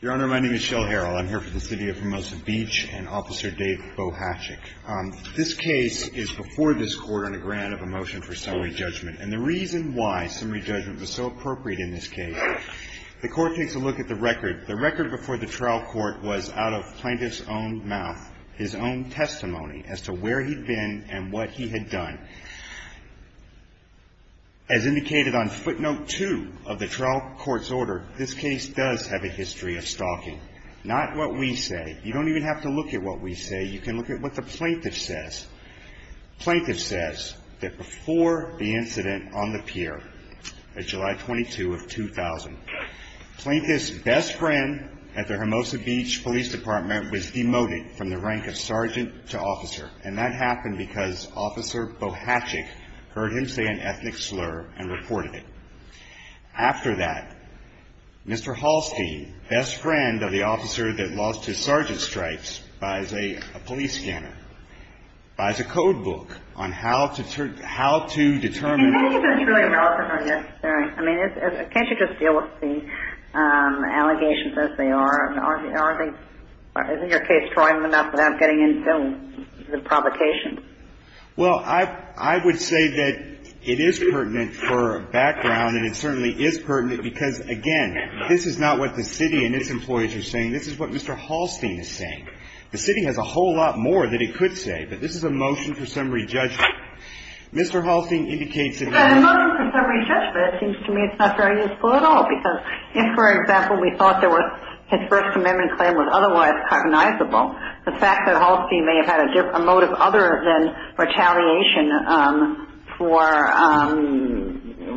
Your Honor, my name is Shell Harrell. I'm here for the City of Hermosa Beach and Officer Dave Bohashek. This case is before this Court on a grant of a motion for summary judgment. And the reason why summary judgment was so appropriate in this case, the Court takes a look at the record. The record before the trial court was out of plaintiff's own mouth, his own testimony, as to where he'd been and what he had done. As indicated on footnote 2 of the trial court's order, this case does have a history of stalking. Not what we say. You don't even have to look at what we say. You can look at what the plaintiff says. Plaintiff says that before the incident on the pier on July 22, 2000, Plaintiff's best friend at the Hermosa Beach Police Department was demoted from the rank of Sergeant to Officer. And that happened because Officer Bohashek heard him say an ethnic slur and reported it. After that, Mr. Hallstein, best friend of the officer that lost his sergeant stripes, buys a police scanner, buys a code book on how to determine... Can you just deal with the allegations as they are? Aren't they... Isn't your case trying enough without getting into the provocation? Well, I would say that it is pertinent for background, and it certainly is pertinent because, again, this is not what the city and its employees are saying. This is what Mr. Hallstein is saying. The city has a whole lot more that it could say, but this is a motion for summary judgment. Mr. Hallstein indicates that... But a motion for summary judgment seems to me it's not very useful at all, because if, for example, we thought his First Amendment claim was otherwise cognizable, the fact that Hallstein may have had a motive other than retaliation for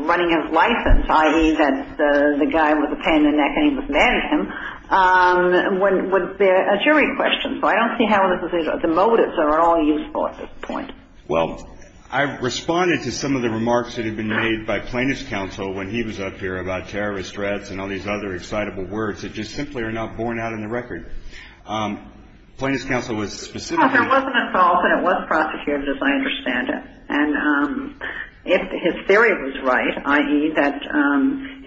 running his license, i.e. that the guy was a pain in the neck and he was mad at him, would be a jury question. So I don't see how the motives are at all useful at this point. Well, I responded to some of the remarks that had been made by plaintiff's counsel when he was up here about terrorist threats and all these other excitable words that just simply are not borne out in the record. Plaintiff's counsel was specifically... Well, there wasn't a fault, and it was prosecuted, as I understand it. And if his theory was right, i.e. that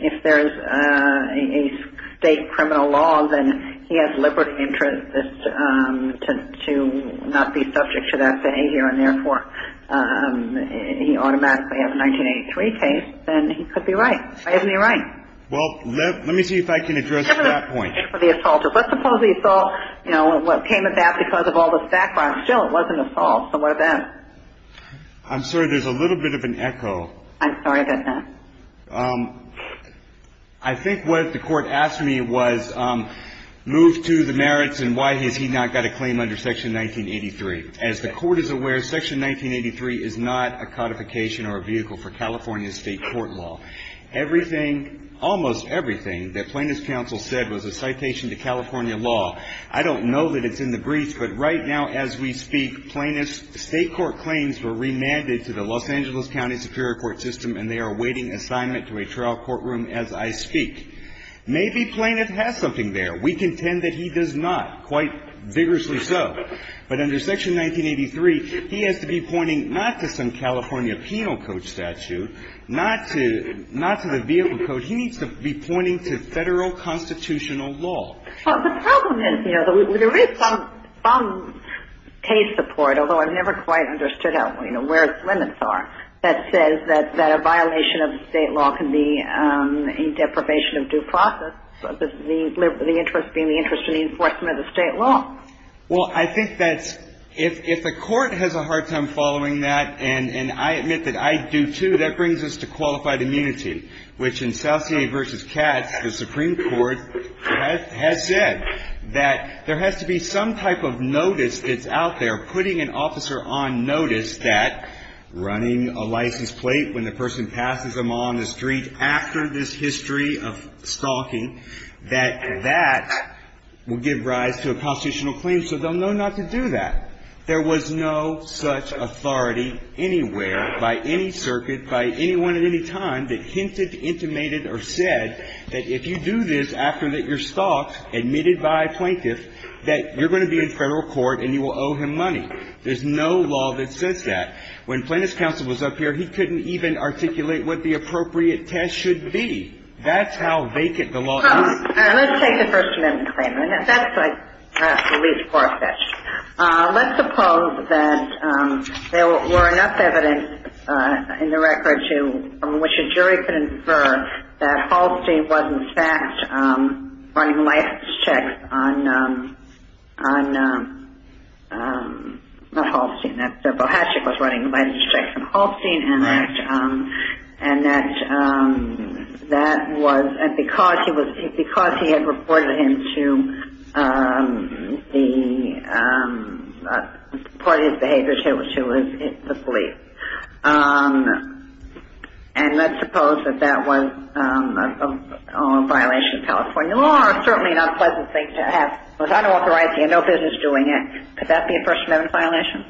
if there is a state criminal law, then he has liberty and interest to not be subject to that state here, and therefore he automatically has a 1983 case, then he could be right. Why isn't he right? Well, let me see if I can address that point. For the assaulter. Let's suppose the assault came about because of all the background. Still, it wasn't an assault. So what then? I'm sorry. There's a little bit of an echo. I'm sorry about that. I think what the court asked me was move to the merits and why has he not got a claim under Section 1983. As the court is aware, Section 1983 is not a codification or a vehicle for California state court law. Everything, almost everything that plaintiff's counsel said was a citation to California law. I don't know that it's in the briefs, but right now as we speak, plaintiff's state court claims were remanded to the Los Angeles County Superior Court system, and they are awaiting assignment to a trial courtroom as I speak. Maybe plaintiff has something there. We contend that he does not, quite vigorously so. But under Section 1983, he has to be pointing not to some California penal code statute, not to the vehicle code. He needs to be pointing to federal constitutional law. Well, the problem is, you know, there is some case support, although I've never quite understood how, you know, where its limits are, that says that a violation of state law can be a deprivation of due process, the interest being the interest in the enforcement of the state law. Well, I think that if the court has a hard time following that, and I admit that I do, too, that brings us to qualified immunity, which in Salcier v. Katz, the Supreme Court, has said that there has to be some type of notice that's out there putting an officer on notice that running a license plate when the person passes them on the street after this history of stalking, that that will give rise to a constitutional claim, so they'll know not to do that. There was no such authority anywhere by any circuit, by anyone at any time, that hinted, intimated, or said that if you do this after you're stalked, admitted by a plaintiff, that you're going to be in federal court and you will owe him money. There's no law that says that. When Plaintiff's counsel was up here, he couldn't even articulate what the appropriate test should be. That's how vacant the law is. Let's take the First Amendment claim. That's like the least poor statute. Let's suppose that there were enough evidence in the record from which a jury could infer that Halstein was, in fact, running license checks on, not Halstein, that Bohatchik was running license checks on Halstein, and that that was because he had reported him to the police. And let's suppose that that was a violation of California law, or certainly not a pleasant thing to have. It was unauthorized. He had no business doing it. Could that be a First Amendment violation?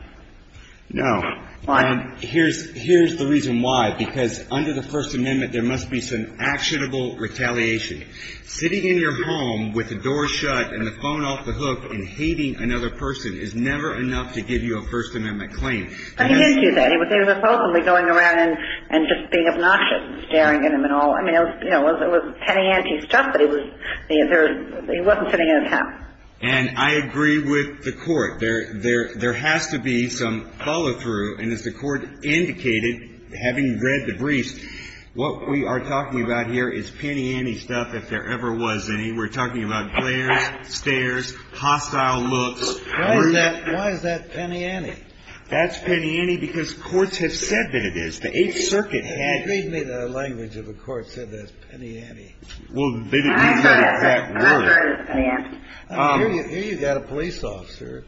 No. Why? Here's the reason why. Because under the First Amendment, there must be some actionable retaliation. Sitting in your home with the door shut and the phone off the hook and hating another person is never enough to give you a First Amendment claim. But he didn't do that. He was supposedly going around and just being obnoxious, staring at him and all. I mean, it was petty ante stuff, but he wasn't sitting in his house. And I agree with the Court. There has to be some follow through. And as the Court indicated, having read the briefs, what we are talking about here is petty ante stuff, if there ever was any. We're talking about glares, stares, hostile looks. Why is that petty ante? That's petty ante because courts have said that it is. The Eighth Circuit had it. Read me the language of a court that said that's petty ante. Well, they didn't use that exact word. Here you've got a police officer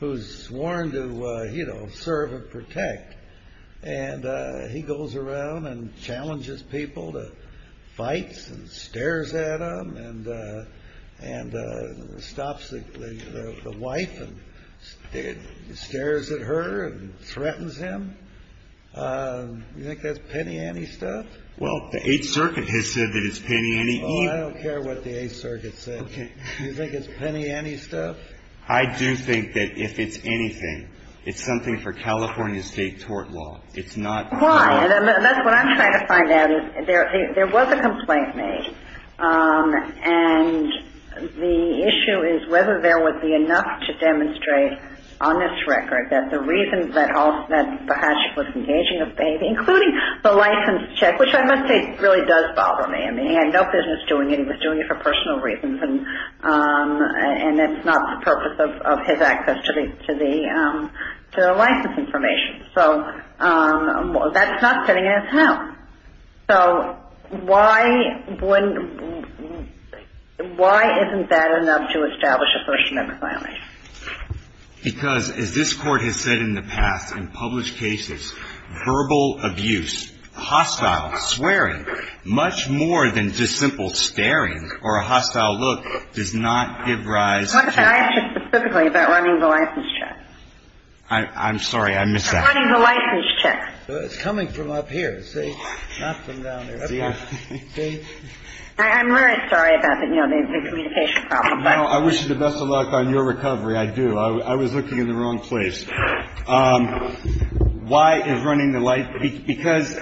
who's sworn to, you know, serve and protect. And he goes around and challenges people to fights and stares at him and stops the wife and stares at her and threatens him. You think that's petty ante stuff? Well, the Eighth Circuit has said that it's petty ante. Well, I don't care what the Eighth Circuit said. Okay. Do you think it's petty ante stuff? I do think that if it's anything, it's something for California State tort law. It's not the law. Why? That's what I'm trying to find out, is there was a complaint made. And the issue is whether there would be enough to demonstrate on this record that the reason that the hatch was engaging a baby, including the license check, which I must say really does bother me. I mean, he had no business doing it. He was doing it for personal reasons. And it's not the purpose of his access to the license information. So that's not sitting in his house. So why isn't that enough to establish a first amendment violation? Because as this Court has said in the past in published cases, verbal abuse, hostile swearing, much more than just simple staring or a hostile look, does not give rise to ‑‑ I'm sorry. I missed that. I'm running the license check. It's coming from up here. See? Not from down there. Okay. See? I'm really sorry about the communication problem. I wish you the best of luck on your recovery. I do. I was looking in the wrong place. Why is running the light? Because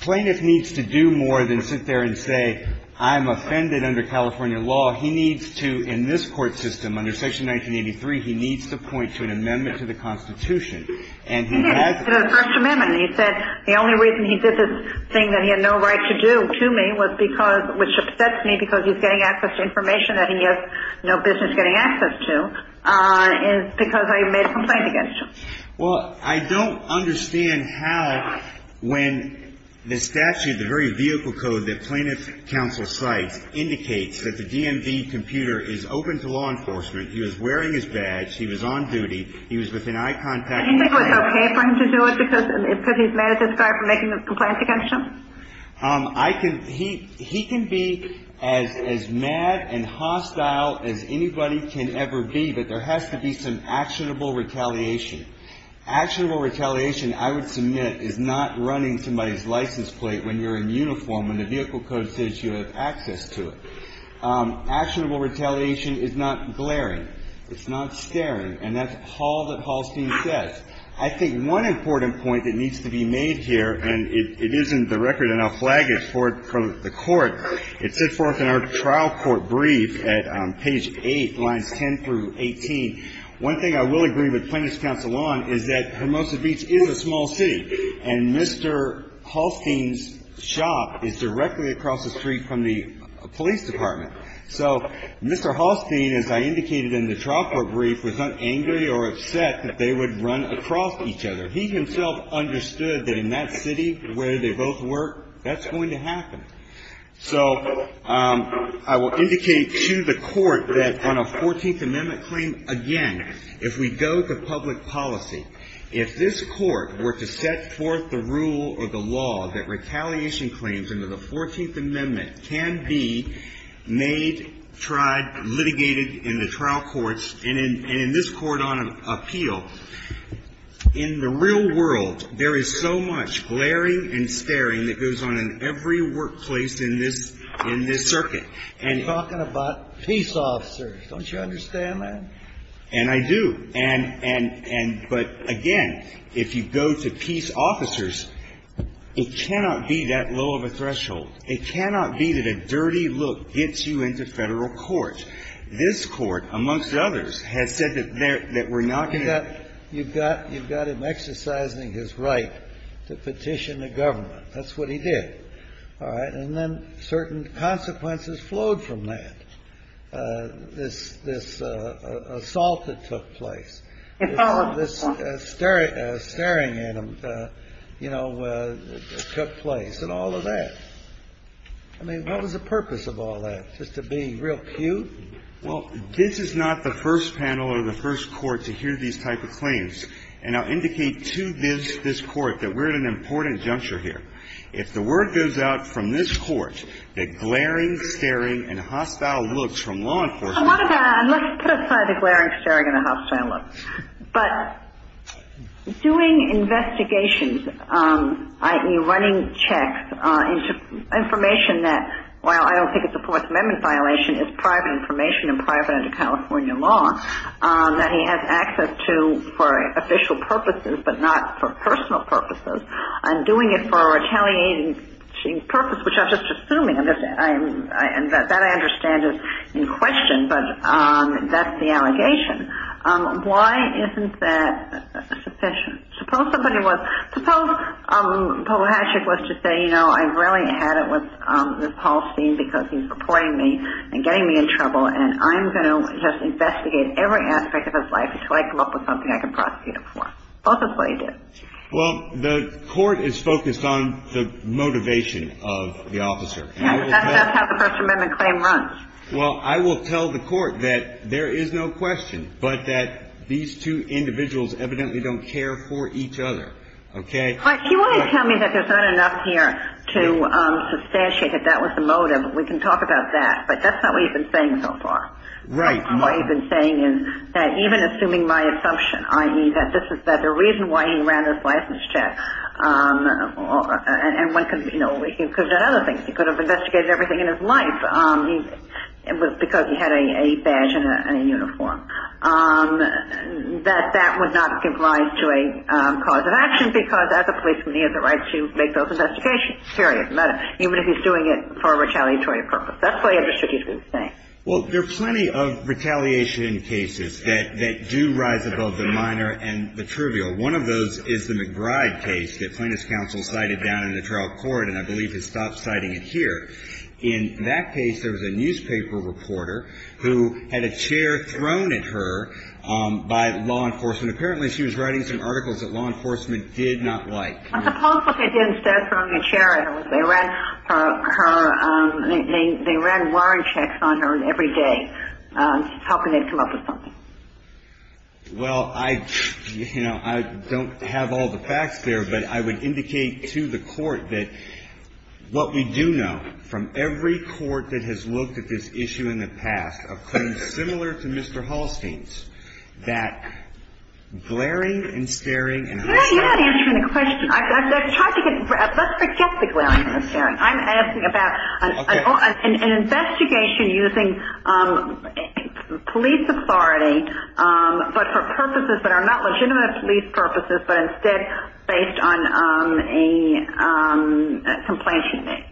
plaintiff needs to do more than sit there and say, I'm offended under California law. He needs to, in this court system, under Section 1983, he needs to point to an amendment to the Constitution. And he has ‑‑ He did. It was a first amendment. He said the only reason he did this thing that he had no right to do to me was because ‑‑ which upsets me because he's getting access to information that he has no business getting access to, is because I made a complaint against him. Well, I don't understand how, when the statute, the very vehicle code that plaintiff counsel cites, indicates that the DMV computer is open to law enforcement, he was wearing his badge, he was on duty, he was within eye contact. Do you think it was okay for him to do it because he's mad at this guy for making a complaint against him? I can ‑‑ he can be as mad and hostile as anybody can ever be, but there has to be some actionable retaliation. Actionable retaliation, I would submit, is not running somebody's license plate when you're in uniform, when the vehicle code says you have access to it. Actionable retaliation is not glaring. It's not staring. And that's all that Hallstein says. I think one important point that needs to be made here, and it is in the record and I'll flag it for the court, it's set forth in our trial court brief at page 8, lines 10 through 18. One thing I will agree with plaintiff's counsel on is that Hermosa Beach is a small city, and Mr. Hallstein's shop is directly across the street from the police department. So Mr. Hallstein, as I indicated in the trial court brief, was not angry or upset that they would run across each other. He himself understood that in that city where they both work, that's going to happen. So I will indicate to the court that on a 14th Amendment claim, again, if we go to public policy, if this court were to set forth the rule or the law that retaliation claims under the 14th Amendment can be made, tried, litigated in the trial courts and in this court on appeal, in the real world, there is so much glaring and staring that goes on in every workplace in this circuit. And you're talking about peace officers. Don't you understand that? And I do. And but, again, if you go to peace officers, it cannot be that low of a threshold. It cannot be that a dirty look gets you into federal court. This court, amongst others, has said that we're not going to You've got him exercising his right to petition the government. That's what he did. All right. And then certain consequences flowed from that. This assault that took place, this staring at him, you know, took place and all of that. I mean, what was the purpose of all that, just to be real cute? Well, this is not the first panel or the first court to hear these type of claims. And I'll indicate to this court that we're at an important juncture here. If the word goes out from this court that glaring, staring and hostile looks from law enforcement I want to put aside the glaring, staring and hostile looks. But doing investigations, i.e. running checks into information that, while I don't think it's a Fourth Amendment violation, it's private information and private under California law that he has access to for official purposes but not for personal purposes, and doing it for a retaliating purpose, which I'm just assuming, and that I understand is in question, but that's the allegation. Why isn't that sufficient? Suppose somebody was, suppose Paul Hashick was to say, you know, I really had it with this Paul Steen because he's reporting me and getting me in trouble and I'm going to just investigate every aspect of his life until I come up with something I can prosecute him for. Suppose that's what he did. Well, the court is focused on the motivation of the officer. Yes, that's how the First Amendment claim runs. Well, I will tell the court that there is no question but that these two individuals evidently don't care for each other. Okay? But you want to tell me that there's not enough here to substantiate that that was the motive. We can talk about that. But that's not what you've been saying so far. Right. What you've been saying is that even assuming my assumption, i.e., that the reason why he ran this license check and one could, you know, he could have done other things. He could have investigated everything in his life. It was because he had a badge and a uniform. That that would not give rise to a cause of action because as a policeman he has the right to make those investigations. Period. Even if he's doing it for a retaliatory purpose. That's what I understood you to be saying. Well, there are plenty of retaliation cases that do rise above the minor and the trivial. One of those is the McBride case that plaintiff's counsel cited down in the trial court and I believe has stopped citing it here. In that case there was a newspaper reporter who had a chair thrown at her by law enforcement. Apparently she was writing some articles that law enforcement did not like. I suppose what they did instead of throwing a chair at her was they ran her they ran warrant checks on her every day hoping they'd come up with something. Well, I, you know, I don't have all the facts there, but I would indicate to the court that what we do know from every court that has looked at this issue in the past of claims similar to Mr. Hallstein's that glaring and staring and harassment. You're not answering the question. Let's forget the glaring and staring. I'm asking about an investigation using police authority but for purposes that are not legitimate police purposes but instead based on a complaint she made.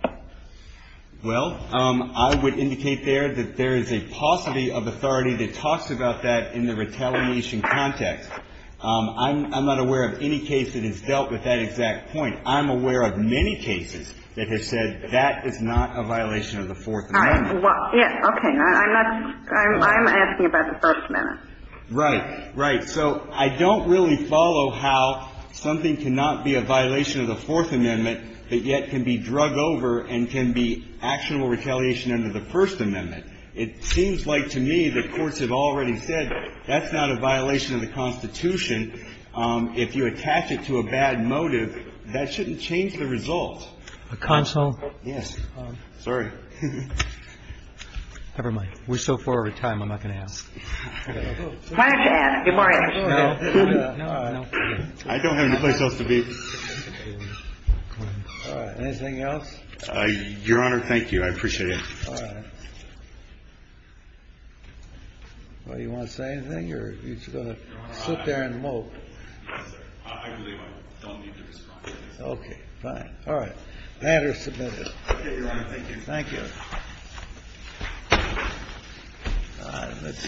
Well, I would indicate there that there is a paucity of authority that talks about that in the retaliation context. I'm not aware of any case that has dealt with that exact point. I'm aware of many cases that have said that is not a violation of the Fourth Amendment. Okay. I'm asking about the First Amendment. Right. Right. So I don't really follow how something cannot be a violation of the Fourth Amendment but yet can be drug over and can be actionable retaliation under the First Amendment. It seems like to me the courts have already said that's not a violation of the Constitution. If you attach it to a bad motive, that shouldn't change the result. Counsel. Yes. Sorry. Never mind. We're so far over time, I'm not going to ask. I don't have any place else to be. All right. Anything else? Your Honor, thank you. I appreciate it. All right. Well, do you want to say anything or are you just going to sit there and mope? Yes, sir. I believe I don't need to respond. Okay. Fine. All right. The matter is submitted. Okay, Your Honor. Thank you. Thank you. All right.